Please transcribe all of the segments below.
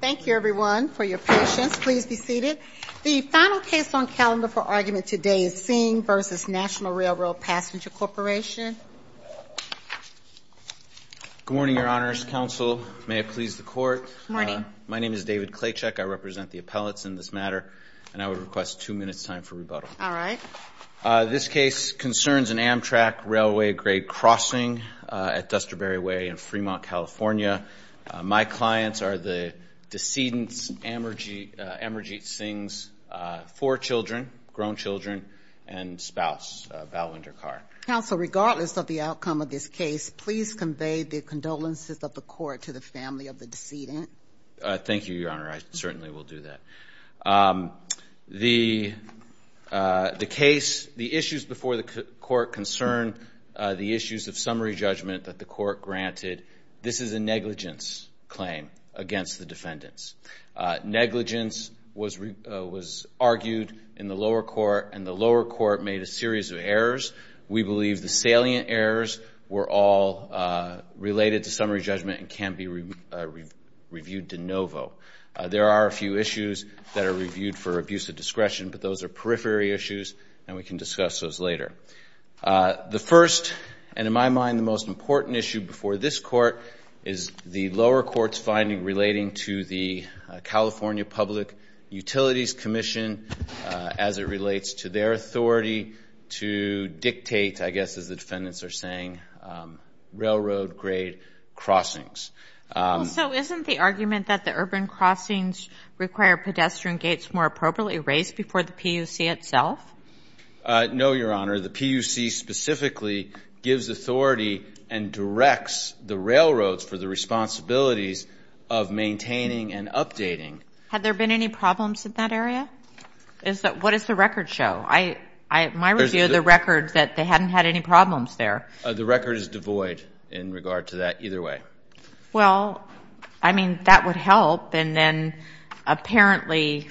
Thank you, everyone, for your patience. Please be seated. The final case on calendar for argument today is Singh v. Nat'l R.R. Passenger Corp. Good morning, Your Honors. Counsel, may it please the Court. Good morning. My name is David Klachek. I represent the appellates in this matter, and I would request two minutes' time for rebuttal. All right. This case concerns an Amtrak railway grade crossing at Dusterberry Way in Fremont, California. My clients are the decedents, Amarjeet Singh's four children, grown children, and spouse, Balwinder Kaur. Counsel, regardless of the outcome of this case, please convey the condolences of the Court to the family of the decedent. Thank you, Your Honor. I certainly will do that. The case, the issues before the Court concern the issues of summary judgment that the Court granted. This is a negligence claim against the defendants. Negligence was argued in the lower court, and the lower court made a series of errors. We believe the salient errors were all related to summary judgment and can be reviewed de novo. There are a few issues that are reviewed for abuse of discretion, but those are periphery issues, and we can discuss those later. The first and, in my mind, the most important issue before this court is the lower court's finding relating to the California Public Utilities Commission as it relates to their authority to dictate, I guess as the defendants are saying, railroad grade crossings. Well, so isn't the argument that the urban crossings require pedestrian gates more appropriately raised before the PUC itself? No, Your Honor. The PUC specifically gives authority and directs the railroads for the responsibilities of maintaining and updating. Had there been any problems in that area? What does the record show? My review of the record is that they hadn't had any problems there. The record is devoid in regard to that either way. Well, I mean, that would help. And then apparently,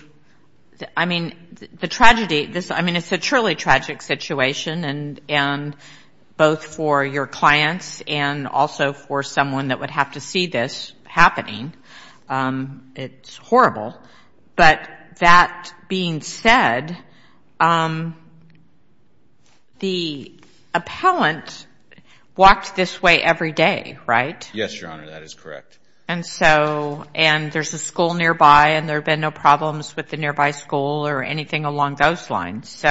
I mean, the tragedy, I mean, it's a truly tragic situation, and both for your clients and also for someone that would have to see this happening. It's horrible. But that being said, the appellant walked this way every day, right? Yes, Your Honor. That is correct. And so, and there's a school nearby, and there have been no problems with the nearby school or anything along those lines.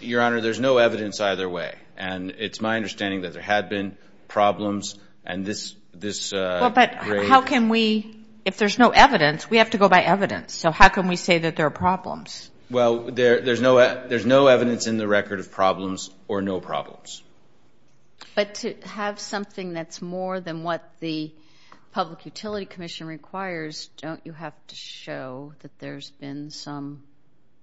Your Honor, there's no evidence either way. And it's my understanding that there had been problems and this grade. If there's no evidence, we have to go by evidence. So how can we say that there are problems? Well, there's no evidence in the record of problems or no problems. But to have something that's more than what the Public Utility Commission requires, don't you have to show that there's been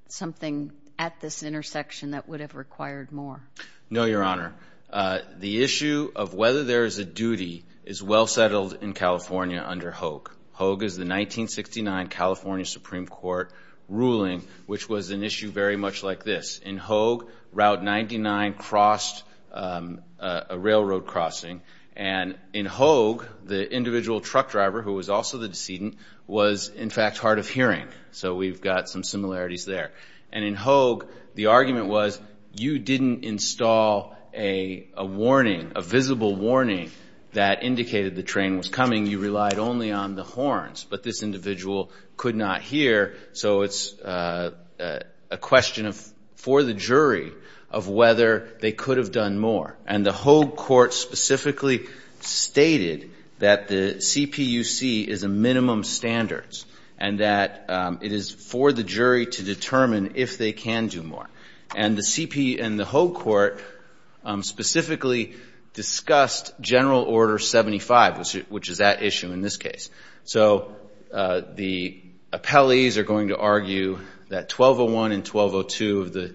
something at this intersection that would have required more? No, Your Honor. The issue of whether there is a duty is well settled in California under Hogue. Hogue is the 1969 California Supreme Court ruling, which was an issue very much like this. In Hogue, Route 99 crossed a railroad crossing. And in Hogue, the individual truck driver, who was also the decedent, was, in fact, hard of hearing. So we've got some similarities there. And in Hogue, the argument was you didn't install a warning, a visible warning, that indicated the train was coming. You relied only on the horns. But this individual could not hear, so it's a question for the jury of whether they could have done more. And the Hogue court specifically stated that the CPUC is a minimum standard and that it is for the jury to determine if they can do more. And the CP and the Hogue court specifically discussed General Order 75, which is that issue in this case. So the appellees are going to argue that 1201 and 1202 of the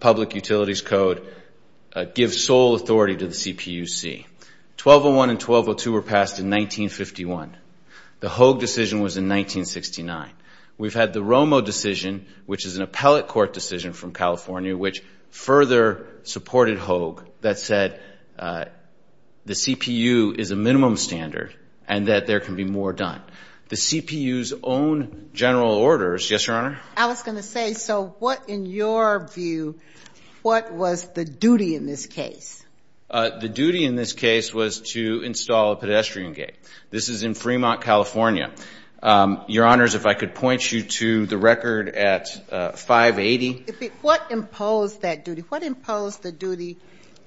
Public Utilities Code give sole authority to the CPUC. 1201 and 1202 were passed in 1951. The Hogue decision was in 1969. We've had the Romo decision, which is an appellate court decision from California, which further supported Hogue that said the CPU is a minimum standard and that there can be more done. The CPU's own General Orders, yes, Your Honor? I was going to say, so what, in your view, what was the duty in this case? The duty in this case was to install a pedestrian gate. This is in Fremont, California. Your Honors, if I could point you to the record at 580. What imposed that duty? What imposed the duty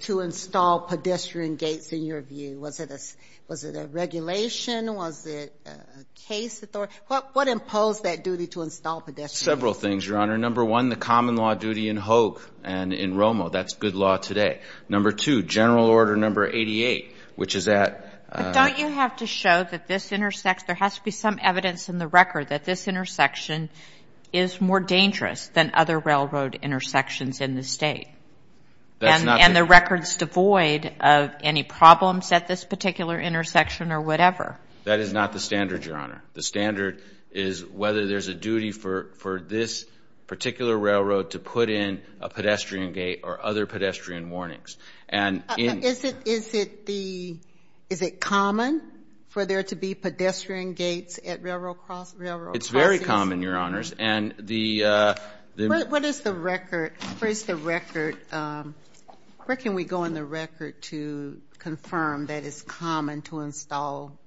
to install pedestrian gates in your view? Was it a regulation? Was it a case authority? What imposed that duty to install pedestrian gates? Several things, Your Honor. Number one, the common law duty in Hogue and in Romo. That's good law today. Number two, General Order number 88, which is that ---- Don't you have to show that this intersects? There has to be some evidence in the record that this intersection is more dangerous than other railroad intersections in the state. And the record's devoid of any problems at this particular intersection or whatever. That is not the standard, Your Honor. The standard is whether there's a duty for this particular railroad to put in a pedestrian gate or other pedestrian warnings. Is it common for there to be pedestrian gates at railroad crossings? It's very common, Your Honors. Where is the record? Where can we go in the record to confirm that it's common to install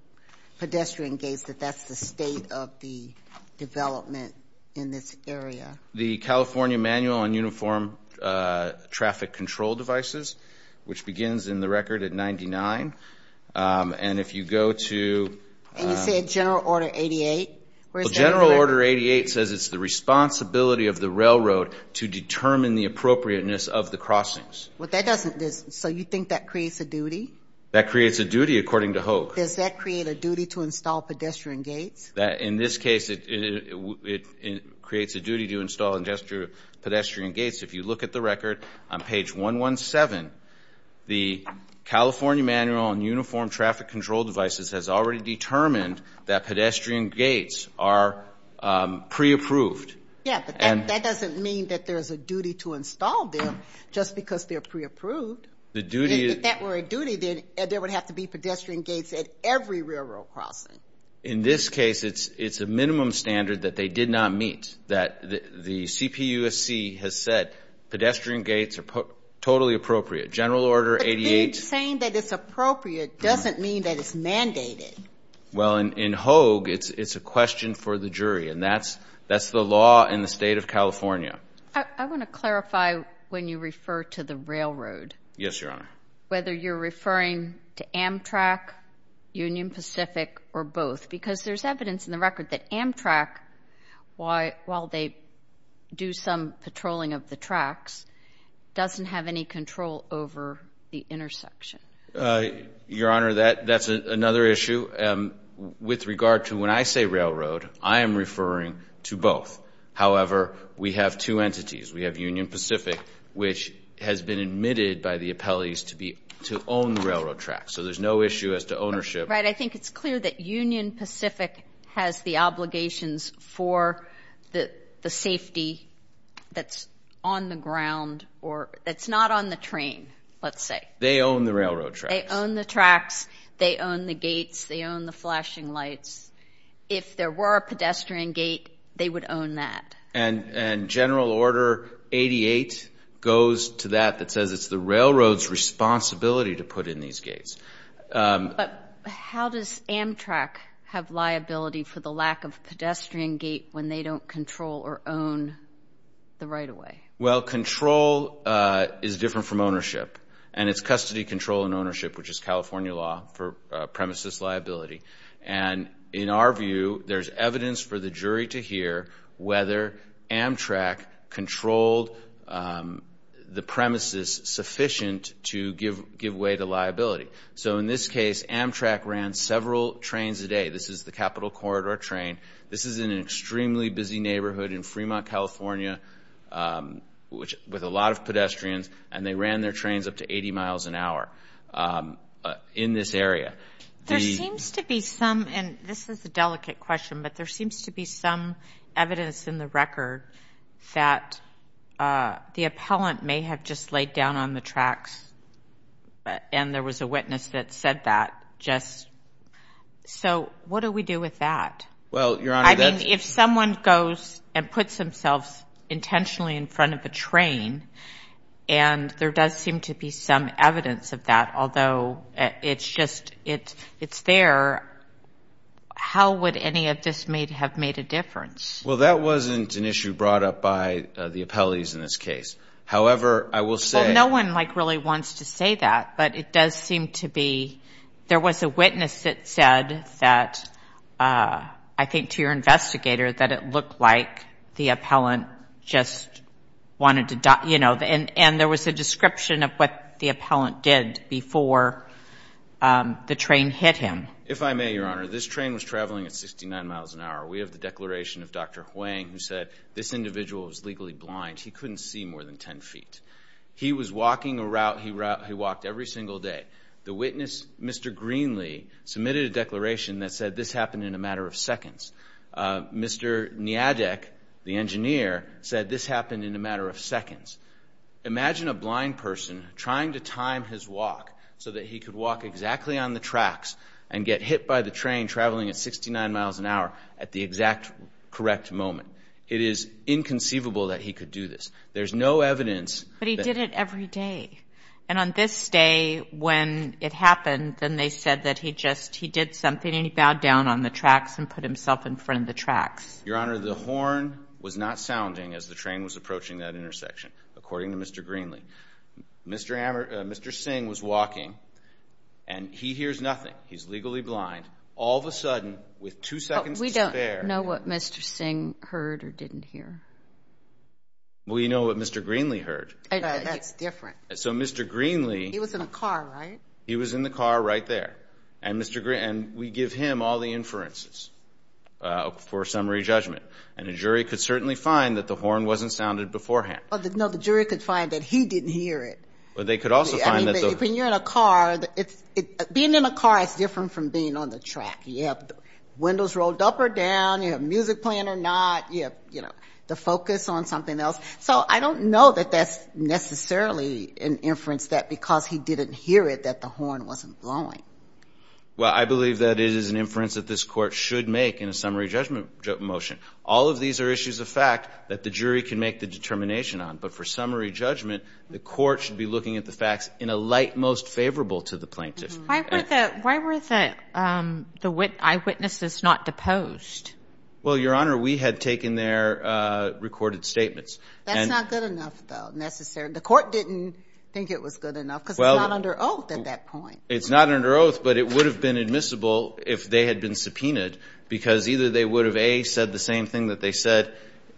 pedestrian gates, that that's the state of the development in this area? The California Manual on Uniform Traffic Control Devices, which begins in the record at 99. And if you go to ---- And you said General Order 88? Well, General Order 88 says it's the responsibility of the railroad to determine the appropriateness of the crossings. So you think that creates a duty? That creates a duty according to Hogue. Does that create a duty to install pedestrian gates? In this case, it creates a duty to install pedestrian gates. If you look at the record on page 117, the California Manual on Uniform Traffic Control Devices has already determined that pedestrian gates are pre-approved. Yeah, but that doesn't mean that there's a duty to install them just because they're pre-approved. If that were a duty, then there would have to be pedestrian gates at every railroad crossing. In this case, it's a minimum standard that they did not meet, that the CPUSC has said pedestrian gates are totally appropriate, General Order 88. But saying that it's appropriate doesn't mean that it's mandated. Well, in Hogue, it's a question for the jury, and that's the law in the state of California. I want to clarify when you refer to the railroad. Yes, Your Honor. Whether you're referring to Amtrak, Union Pacific, or both, because there's evidence in the record that Amtrak, while they do some patrolling of the tracks, doesn't have any control over the intersection. Your Honor, that's another issue. With regard to when I say railroad, I am referring to both. However, we have two entities. We have Union Pacific, which has been admitted by the appellees to own the railroad tracks. So there's no issue as to ownership. Right. I think it's clear that Union Pacific has the obligations for the safety that's on the ground or that's not on the train, let's say. They own the railroad tracks. They own the tracks. They own the gates. They own the flashing lights. If there were a pedestrian gate, they would own that. And General Order 88 goes to that that says it's the railroad's responsibility to put in these gates. But how does Amtrak have liability for the lack of a pedestrian gate when they don't control or own the right-of-way? Well, control is different from ownership. And it's custody, control, and ownership, which is California law for premises liability. And in our view, there's evidence for the jury to hear whether Amtrak controlled the premises sufficient to give way to liability. So in this case, Amtrak ran several trains a day. This is the Capitol Corridor train. This is in an extremely busy neighborhood in Fremont, California, with a lot of pedestrians, and they ran their trains up to 80 miles an hour in this area. There seems to be some, and this is a delicate question, but there seems to be some evidence in the record that the appellant may have just laid down on the tracks, and there was a witness that said that, just. So what do we do with that? Well, Your Honor, that's. I mean, if someone goes and puts themselves intentionally in front of a train, and there does seem to be some evidence of that, although it's just, it's there, how would any of this have made a difference? Well, that wasn't an issue brought up by the appellees in this case. However, I will say. Well, no one, like, really wants to say that, but it does seem to be. There was a witness that said that, I think to your investigator, that it looked like the appellant just wanted to, you know, and there was a description of what the appellant did before the train hit him. If I may, Your Honor, this train was traveling at 69 miles an hour. We have the declaration of Dr. Huang who said this individual was legally blind. He couldn't see more than 10 feet. He was walking a route he walked every single day. The witness, Mr. Greenlee, submitted a declaration that said this happened in a matter of seconds. Mr. Niadek, the engineer, said this happened in a matter of seconds. Imagine a blind person trying to time his walk so that he could walk exactly on the tracks and get hit by the train traveling at 69 miles an hour at the exact correct moment. It is inconceivable that he could do this. There's no evidence. But he did it every day. And on this day when it happened, then they said that he just, he did something, and he bowed down on the tracks and put himself in front of the tracks. Your Honor, the horn was not sounding as the train was approaching that intersection, according to Mr. Greenlee. Mr. Singh was walking, and he hears nothing. He's legally blind. All of a sudden, with two seconds to spare. But we don't know what Mr. Singh heard or didn't hear. Well, you know what Mr. Greenlee heard. That's different. So Mr. Greenlee. He was in the car, right? He was in the car right there. And we give him all the inferences for summary judgment. And a jury could certainly find that the horn wasn't sounded beforehand. No, the jury could find that he didn't hear it. But they could also find that the. I mean, when you're in a car, being in a car is different from being on the track. You have windows rolled up or down. You have music playing or not. You have, you know, the focus on something else. So I don't know that that's necessarily an inference that because he didn't hear it that the horn wasn't blowing. Well, I believe that it is an inference that this court should make in a summary judgment motion. All of these are issues of fact that the jury can make the determination on. But for summary judgment, the court should be looking at the facts in a light most favorable to the plaintiff. Why were the eyewitnesses not deposed? Well, Your Honor, we had taken their recorded statements. That's not good enough, though, necessarily. The court didn't think it was good enough because it's not under oath at that point. It's not under oath, but it would have been admissible if they had been subpoenaed, because either they would have, A, said the same thing that they said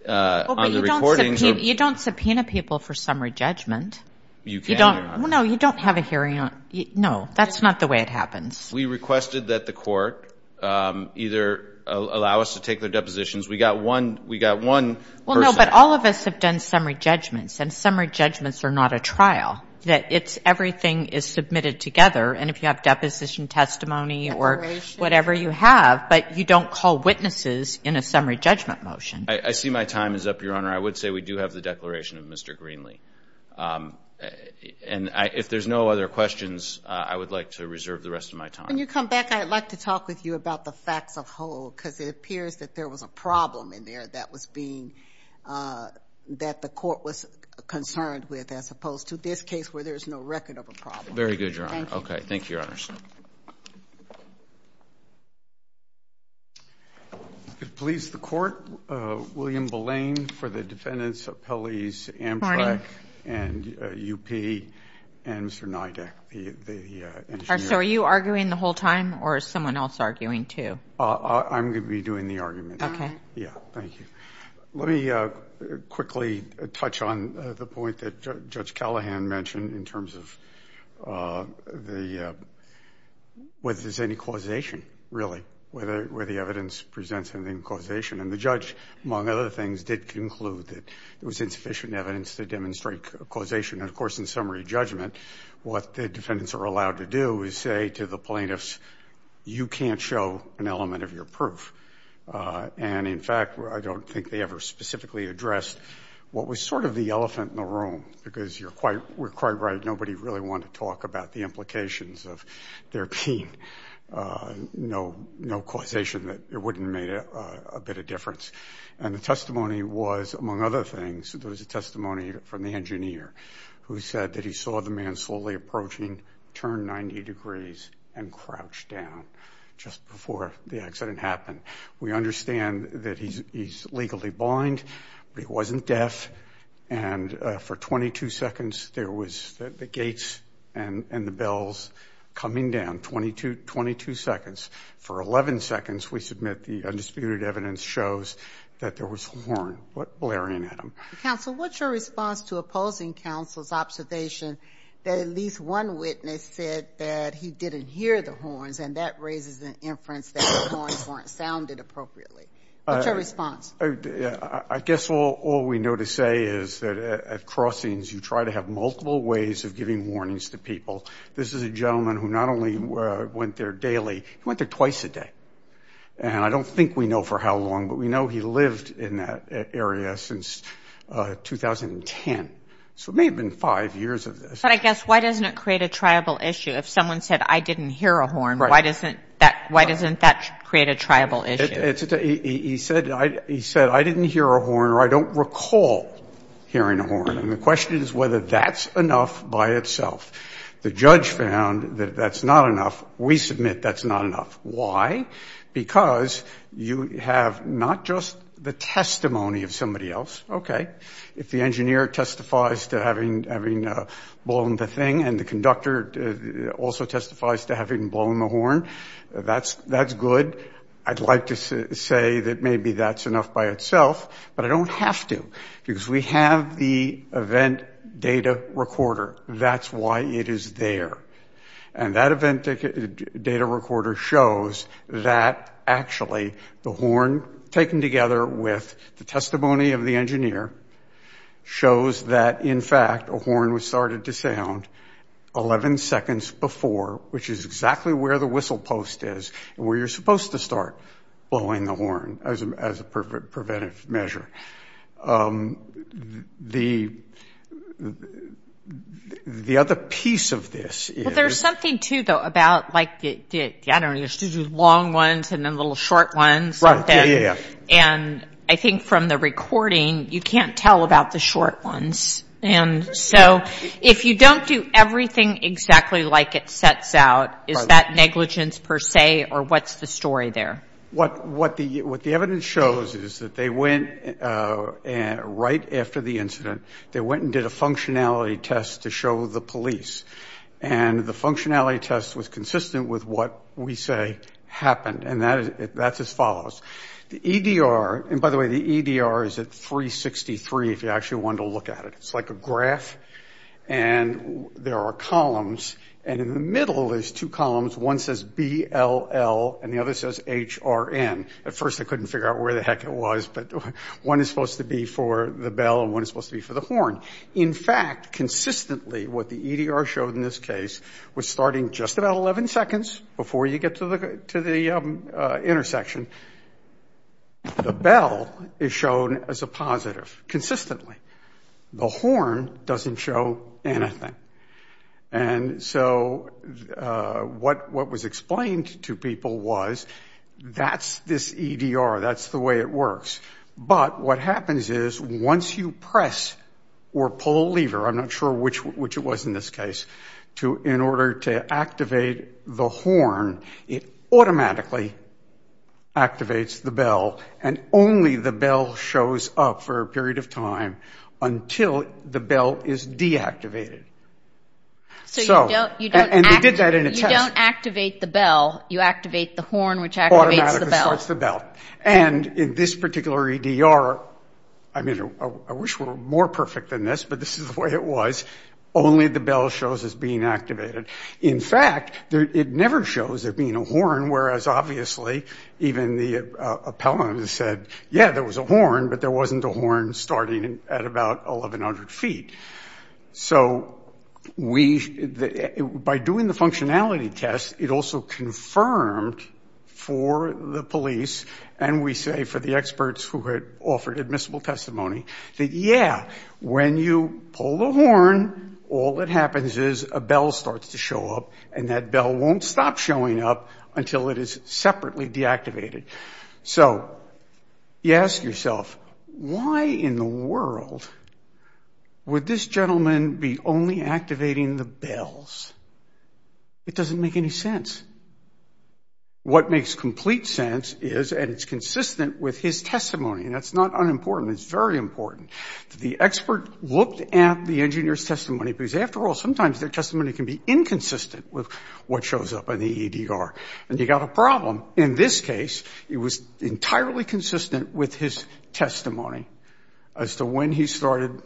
on the recording. You don't subpoena people for summary judgment. You can, Your Honor. No, you don't have a hearing. No, that's not the way it happens. We requested that the court either allow us to take their depositions. We got one person. Well, no, but all of us have done summary judgments, and summary judgments are not a trial. Everything is submitted together, and if you have deposition testimony or whatever you have, but you don't call witnesses in a summary judgment motion. I see my time is up, Your Honor. I would say we do have the declaration of Mr. Greenlee. And if there's no other questions, I would like to reserve the rest of my time. When you come back, I'd like to talk with you about the facts of whole, because it appears that there was a problem in there that was being that the court was concerned with as opposed to this case where there's no record of a problem. Very good, Your Honor. Okay. Thank you, Your Honor. Please, the court. William Belane for the defendants' appellees Amtrak and UP and Mr. Nydak, the engineer. So are you arguing the whole time, or is someone else arguing too? I'm going to be doing the arguments. Okay. Yeah, thank you. Let me quickly touch on the point that Judge Callahan mentioned in terms of whether there's any causation, really, where the evidence presents any causation. And the judge, among other things, did conclude that there was insufficient evidence to demonstrate causation. And, of course, in summary judgment, what the defendants are allowed to do is say to the plaintiffs, you can't show an element of your proof. And, in fact, I don't think they ever specifically addressed what was sort of the elephant in the room, because you're quite right, nobody really wanted to talk about the implications of their pain. No causation that it wouldn't have made a bit of difference. And the testimony was, among other things, there was a testimony from the engineer, who said that he saw the man slowly approaching, turn 90 degrees, and crouch down just before the accident happened. We understand that he's legally blind, but he wasn't deaf. And for 22 seconds, there was the gates and the bells coming down, 22 seconds. For 11 seconds, we submit the undisputed evidence shows that there was a horn blaring at him. Counsel, what's your response to opposing counsel's observation that at least one witness said that he didn't hear the horns, and that raises an inference that the horns weren't sounded appropriately? What's your response? I guess all we know to say is that at crossings, you try to have multiple ways of giving warnings to people. This is a gentleman who not only went there daily, he went there twice a day. And I don't think we know for how long, but we know he lived in that area since 2010. So it may have been five years of this. But I guess why doesn't it create a triable issue? If someone said, I didn't hear a horn, why doesn't that create a triable issue? He said, I didn't hear a horn, or I don't recall hearing a horn. And the question is whether that's enough by itself. The judge found that that's not enough. We submit that's not enough. Why? Because you have not just the testimony of somebody else. Okay. If the engineer testifies to having blown the thing, and the conductor also testifies to having blown the horn, that's good. I'd like to say that maybe that's enough by itself. But I don't have to, because we have the event data recorder. That's why it is there. And that event data recorder shows that, actually, the horn, taken together with the testimony of the engineer, shows that, in fact, a horn was started to sound 11 seconds before, which is exactly where the whistle post is and where you're supposed to start blowing the horn as a preventive measure. The other piece of this is ‑‑ Well, there's something, too, though, about, like, I don't know, long ones and then little short ones. Right. Yeah, yeah, yeah. And I think from the recording, you can't tell about the short ones. And so if you don't do everything exactly like it sets out, is that negligence per se, or what's the story there? What the evidence shows is that they went right after the incident, they went and did a functionality test to show the police. And the functionality test was consistent with what we say happened. And that's as follows. The EDR ‑‑ and, by the way, the EDR is at 363, if you actually want to look at it. It's like a graph. And there are columns. And in the middle, there's two columns. One says B-L-L, and the other says H-R-N. At first, I couldn't figure out where the heck it was, but one is supposed to be for the bell, and one is supposed to be for the horn. In fact, consistently, what the EDR showed in this case was starting just about 11 seconds before you get to the intersection, the bell is shown as a positive consistently. The horn doesn't show anything. And so what was explained to people was that's this EDR, that's the way it works. But what happens is once you press or pull a lever, I'm not sure which it was in this case, in order to activate the horn, it automatically activates the bell, and only the bell shows up for a period of time until the bell is deactivated. And they did that in a test. You don't activate the bell. You activate the horn, which activates the bell. Automatically starts the bell. And in this particular EDR, I mean, I wish it were more perfect than this, but this is the way it was. Only the bell shows as being activated. In fact, it never shows there being a horn, whereas obviously even the appellant said, yeah, there was a horn, but there wasn't a horn starting at about 1,100 feet. So by doing the functionality test, it also confirmed for the police, and we say for the experts who had offered admissible testimony, that, yeah, when you pull the horn, all that happens is a bell starts to show up, and that bell won't stop showing up until it is separately deactivated. So you ask yourself, why in the world would this gentleman be only activating the bells? It doesn't make any sense. What makes complete sense is, and it's consistent with his testimony, and that's not unimportant, it's very important, that the expert looked at the engineer's testimony, because after all, sometimes their testimony can be inconsistent with what shows up in the EDR. And you've got a problem. In this case, it was entirely consistent with his testimony as to when he started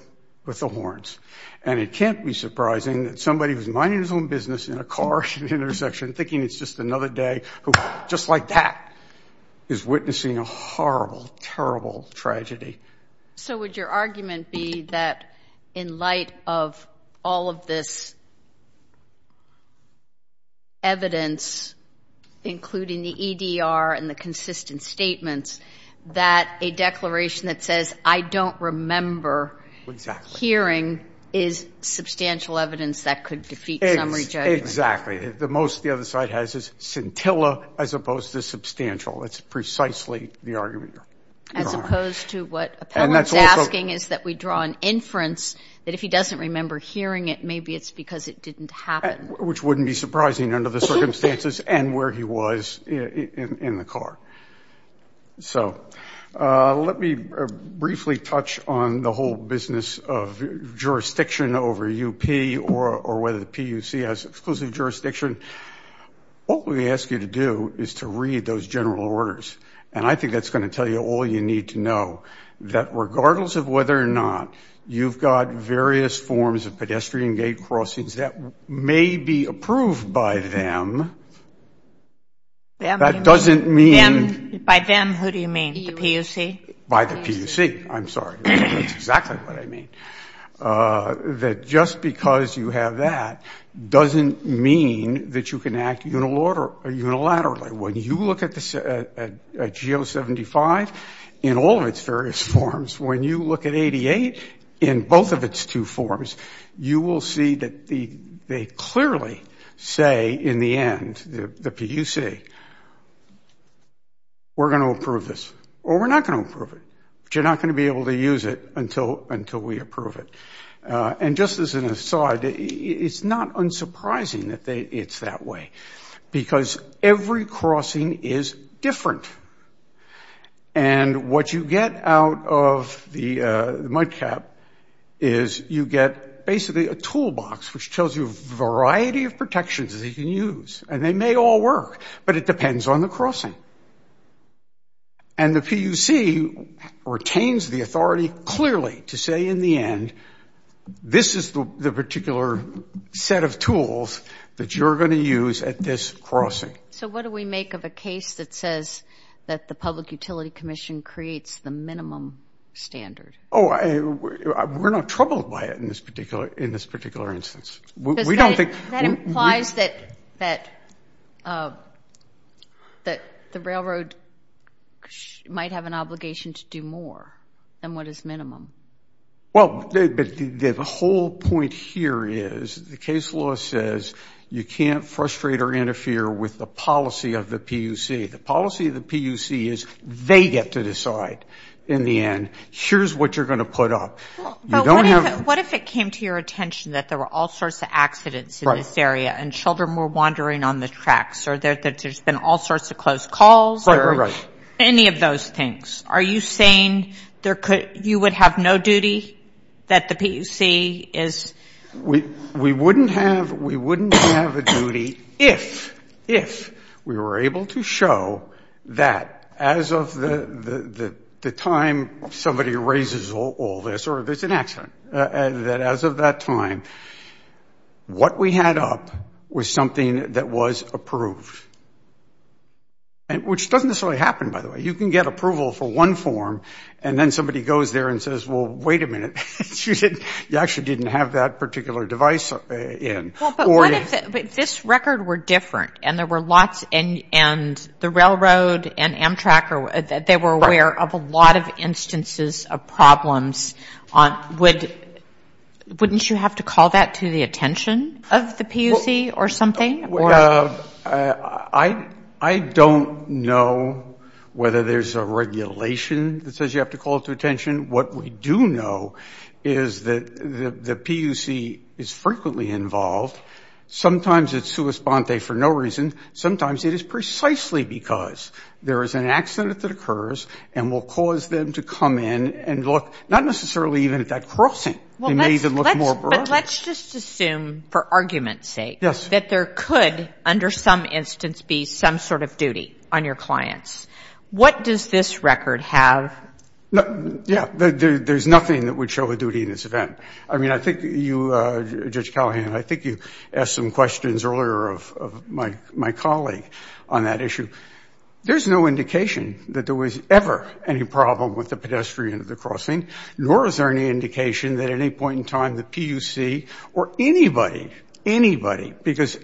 with the horns. And it can't be surprising that somebody who's minding his own business in a car at an intersection, thinking it's just another day, who, just like that, is witnessing a horrible, terrible tragedy. So would your argument be that in light of all of this evidence, including the EDR and the consistent statements, that a declaration that says, I don't remember hearing, is substantial evidence that could defeat summary judgment? Exactly. The most the other side has is scintilla as opposed to substantial. That's precisely the argument. As opposed to what Appellant's asking is that we draw an inference that if he doesn't remember hearing it, maybe it's because it didn't happen. Which wouldn't be surprising under the circumstances and where he was in the car. So let me briefly touch on the whole business of jurisdiction over UP or whether the PUC has exclusive jurisdiction. What we ask you to do is to read those general orders. And I think that's going to tell you all you need to know, that regardless of whether or not you've got various forms of pedestrian gate crossings that may be approved by them, that doesn't mean by the PUC, I'm sorry. That's exactly what I mean. That just because you have that doesn't mean that you can act unilaterally. When you look at GO75 in all of its various forms, when you look at 88 in both of its two forms, you will see that they clearly say in the end, the PUC, we're going to approve this. Or we're not going to approve it. But you're not going to be able to use it until we approve it. And just as an aside, it's not unsurprising that it's that way. Because every crossing is different. And what you get out of the mud cap is you get basically a toolbox, which tells you a variety of protections that you can use. And they may all work, but it depends on the crossing. And the PUC retains the authority clearly to say in the end, this is the particular set of tools that you're going to use at this crossing. So what do we make of a case that says that the Public Utility Commission creates the minimum standard? Oh, we're not troubled by it in this particular instance. That implies that the railroad might have an obligation to do more than what is minimum. Well, the whole point here is the case law says you can't frustrate or interfere with the policy of the PUC. The policy of the PUC is they get to decide in the end, here's what you're going to put up. But what if it came to your attention that there were all sorts of accidents in this area and children were wandering on the tracks or that there's been all sorts of close calls or any of those things? Are you saying you would have no duty that the PUC is? We wouldn't have a duty if we were able to show that as of the time somebody raises all this or there's an accident, that as of that time, what we had up was something that was approved, which doesn't necessarily happen, by the way. You can get approval for one form and then somebody goes there and says, well, wait a minute. You actually didn't have that particular device in. But what if this record were different and there were lots and the railroad and Amtrak, they were aware of a lot of instances of problems? Wouldn't you have to call that to the attention of the PUC or something? I don't know whether there's a regulation that says you have to call it to attention. What we do know is that the PUC is frequently involved. Sometimes it's sua sponte for no reason. Sometimes it is precisely because there is an accident that occurs and will cause them to come in and look not necessarily even at that crossing. It may even look more broad. But let's just assume for argument's sake that there could, under some instance, be some sort of duty on your clients. What does this record have? Yeah, there's nothing that would show a duty in this event. I mean, I think you, Judge Callahan, I think you asked some questions earlier of my colleague on that issue. There's no indication that there was ever any problem with the pedestrian at the crossing, nor is there any indication that at any point in time the PUC or anybody, anybody, because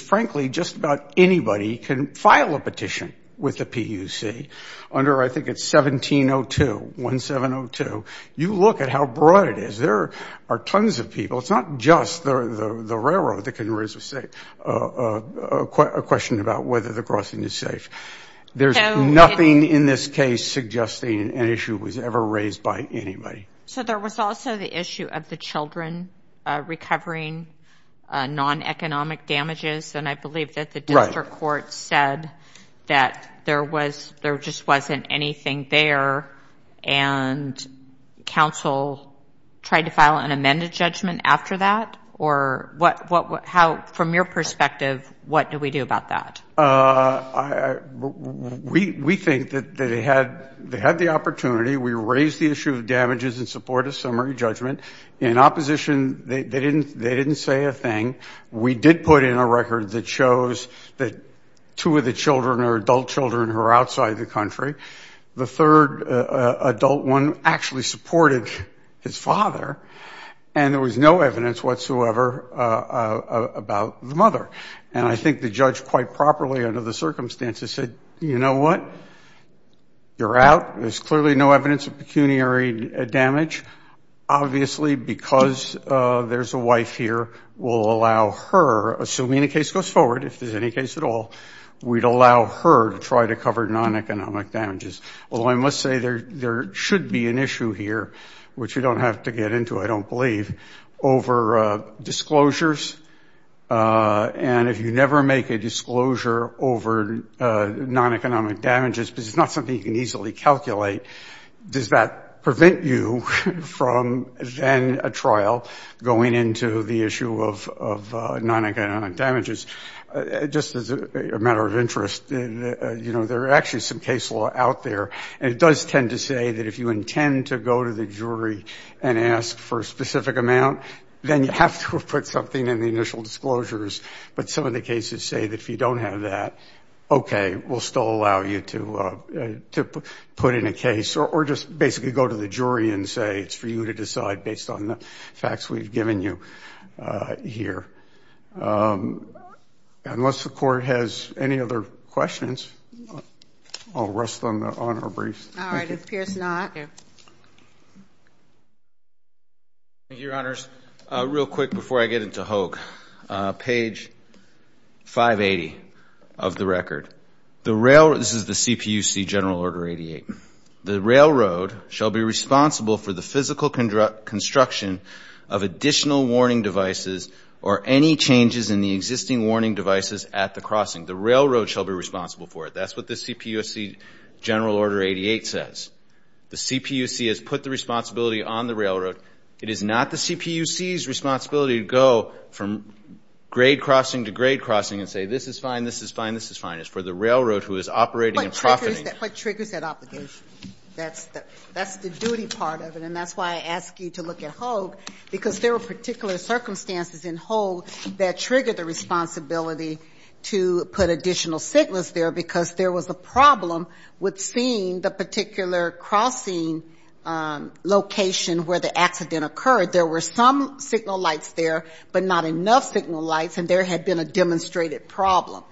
frankly just about anybody can file a petition with the PUC under I think it's 1702, 1702. You look at how broad it is. There are tons of people. It's not just the railroad that can raise a question about whether the crossing is safe. There's nothing in this case suggesting an issue was ever raised by anybody. So there was also the issue of the children recovering non-economic damages, and I believe that the district court said that there was, there just wasn't anything there and counsel tried to file an amended judgment after that? Or what, how, from your perspective, what do we do about that? We think that they had the opportunity. We raised the issue of damages in support of summary judgment. In opposition, they didn't say a thing. We did put in a record that shows that two of the children are adult children who are outside the country. The third adult one actually supported his father, and there was no evidence whatsoever about the mother. And I think the judge quite properly under the circumstances said, you know what, you're out. There's clearly no evidence of pecuniary damage. Obviously because there's a wife here, we'll allow her, assuming the case goes forward, if there's any case at all, we'd allow her to try to cover non-economic damages. Although I must say there should be an issue here, which you don't have to get into I don't believe, over disclosures. And if you never make a disclosure over non-economic damages, because it's not something you can easily calculate, does that prevent you from then a trial going into the issue of non-economic damages? Just as a matter of interest, you know, there are actually some case law out there, and it does tend to say that if you intend to go to the jury and ask for a specific amount, then you have to have put something in the initial disclosures. But some of the cases say that if you don't have that, okay, we'll still allow you to put in a case, or just basically go to the jury and say it's for you to decide based on the facts we've given you here. Unless the Court has any other questions, I'll rest on our brief. All right. Thank you, Your Honors. Real quick before I get into Hogue. Page 580 of the record. This is the CPUC General Order 88. The railroad shall be responsible for the physical construction of additional warning devices or any changes in the existing warning devices at the crossing. The railroad shall be responsible for it. That's what the CPUC General Order 88 says. The CPUC has put the responsibility on the railroad. It is not the CPUC's responsibility to go from grade crossing to grade crossing and say, this is fine, this is fine, this is fine. It's for the railroad who is operating and profiting. What triggers that obligation? That's the duty part of it, and that's why I ask you to look at Hogue, because there were particular circumstances in Hogue that triggered the responsibility to put additional signals there because there was a problem with seeing the particular crossing location where the accident occurred. There were some signal lights there, but not enough signal lights, and there had been a demonstrated problem.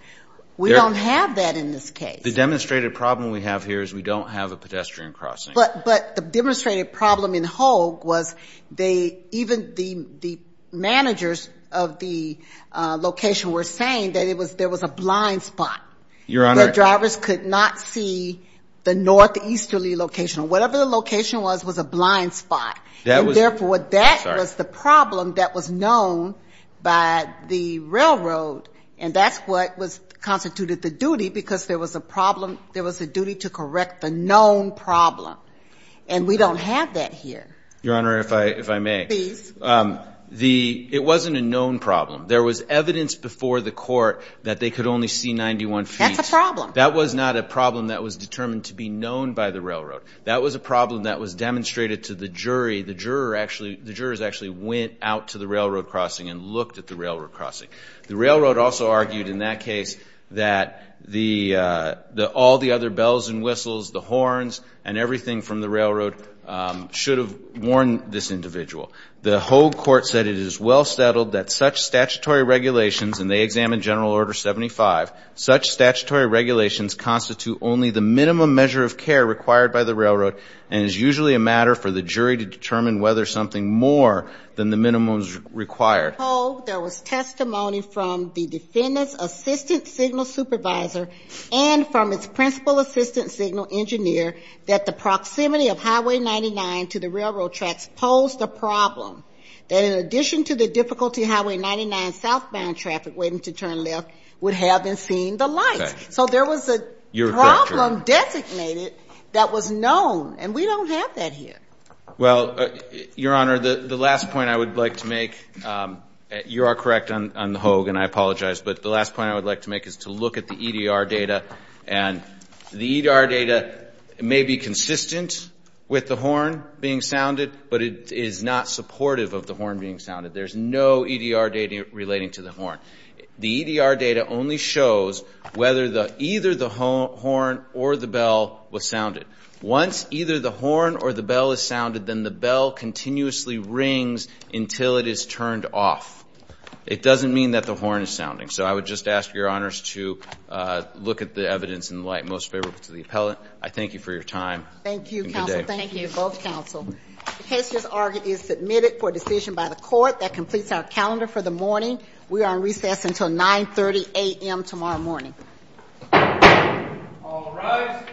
We don't have that in this case. The demonstrated problem we have here is we don't have a pedestrian crossing. But the demonstrated problem in Hogue was they, even the managers of the location were saying that there was a blind spot. Your Honor. The drivers could not see the northeasterly location. Whatever the location was, was a blind spot. And, therefore, that was the problem that was known by the railroad, and that's what constituted the duty because there was a problem, there was a duty to correct the known problem. And we don't have that here. Your Honor, if I may. Please. It wasn't a known problem. There was evidence before the court that they could only see 91 feet. That was not a problem that was determined to be known by the railroad. That was a problem that was demonstrated to the jury. The jurors actually went out to the railroad crossing and looked at the railroad crossing. The railroad also argued in that case that all the other bells and whistles, the horns, and everything from the railroad should have warned this individual. The Hogue court said it is well settled that such statutory regulations, and they examined General Order 75, such statutory regulations constitute only the minimum measure of care required by the railroad and is usually a matter for the jury to determine whether something more than the minimum is required. Hogue, there was testimony from the defendant's assistant signal supervisor and from its principal assistant signal engineer that the proximity of Highway 99 to the railroad tracks posed a problem, that in addition to the difficulty Highway 99 southbound traffic waiting to turn left would have been seeing the lights. So there was a problem designated that was known, and we don't have that here. Well, Your Honor, the last point I would like to make, you are correct on the Hogue, and I apologize, but the last point I would like to make is to look at the EDR data, and the EDR data may be consistent with the horn being sounded, but it is not supportive of the horn being sounded. There's no EDR data relating to the horn. The EDR data only shows whether either the horn or the bell was sounded. Once either the horn or the bell is sounded, then the bell continuously rings until it is turned off. It doesn't mean that the horn is sounding. So I would just ask Your Honors to look at the evidence in the light most favorable to the appellant. I thank you for your time. Thank you, counsel. Thank you, both counsel. The case is submitted for decision by the court. That completes our calendar for the morning. We are on recess until 930 a.m. tomorrow morning. All rise.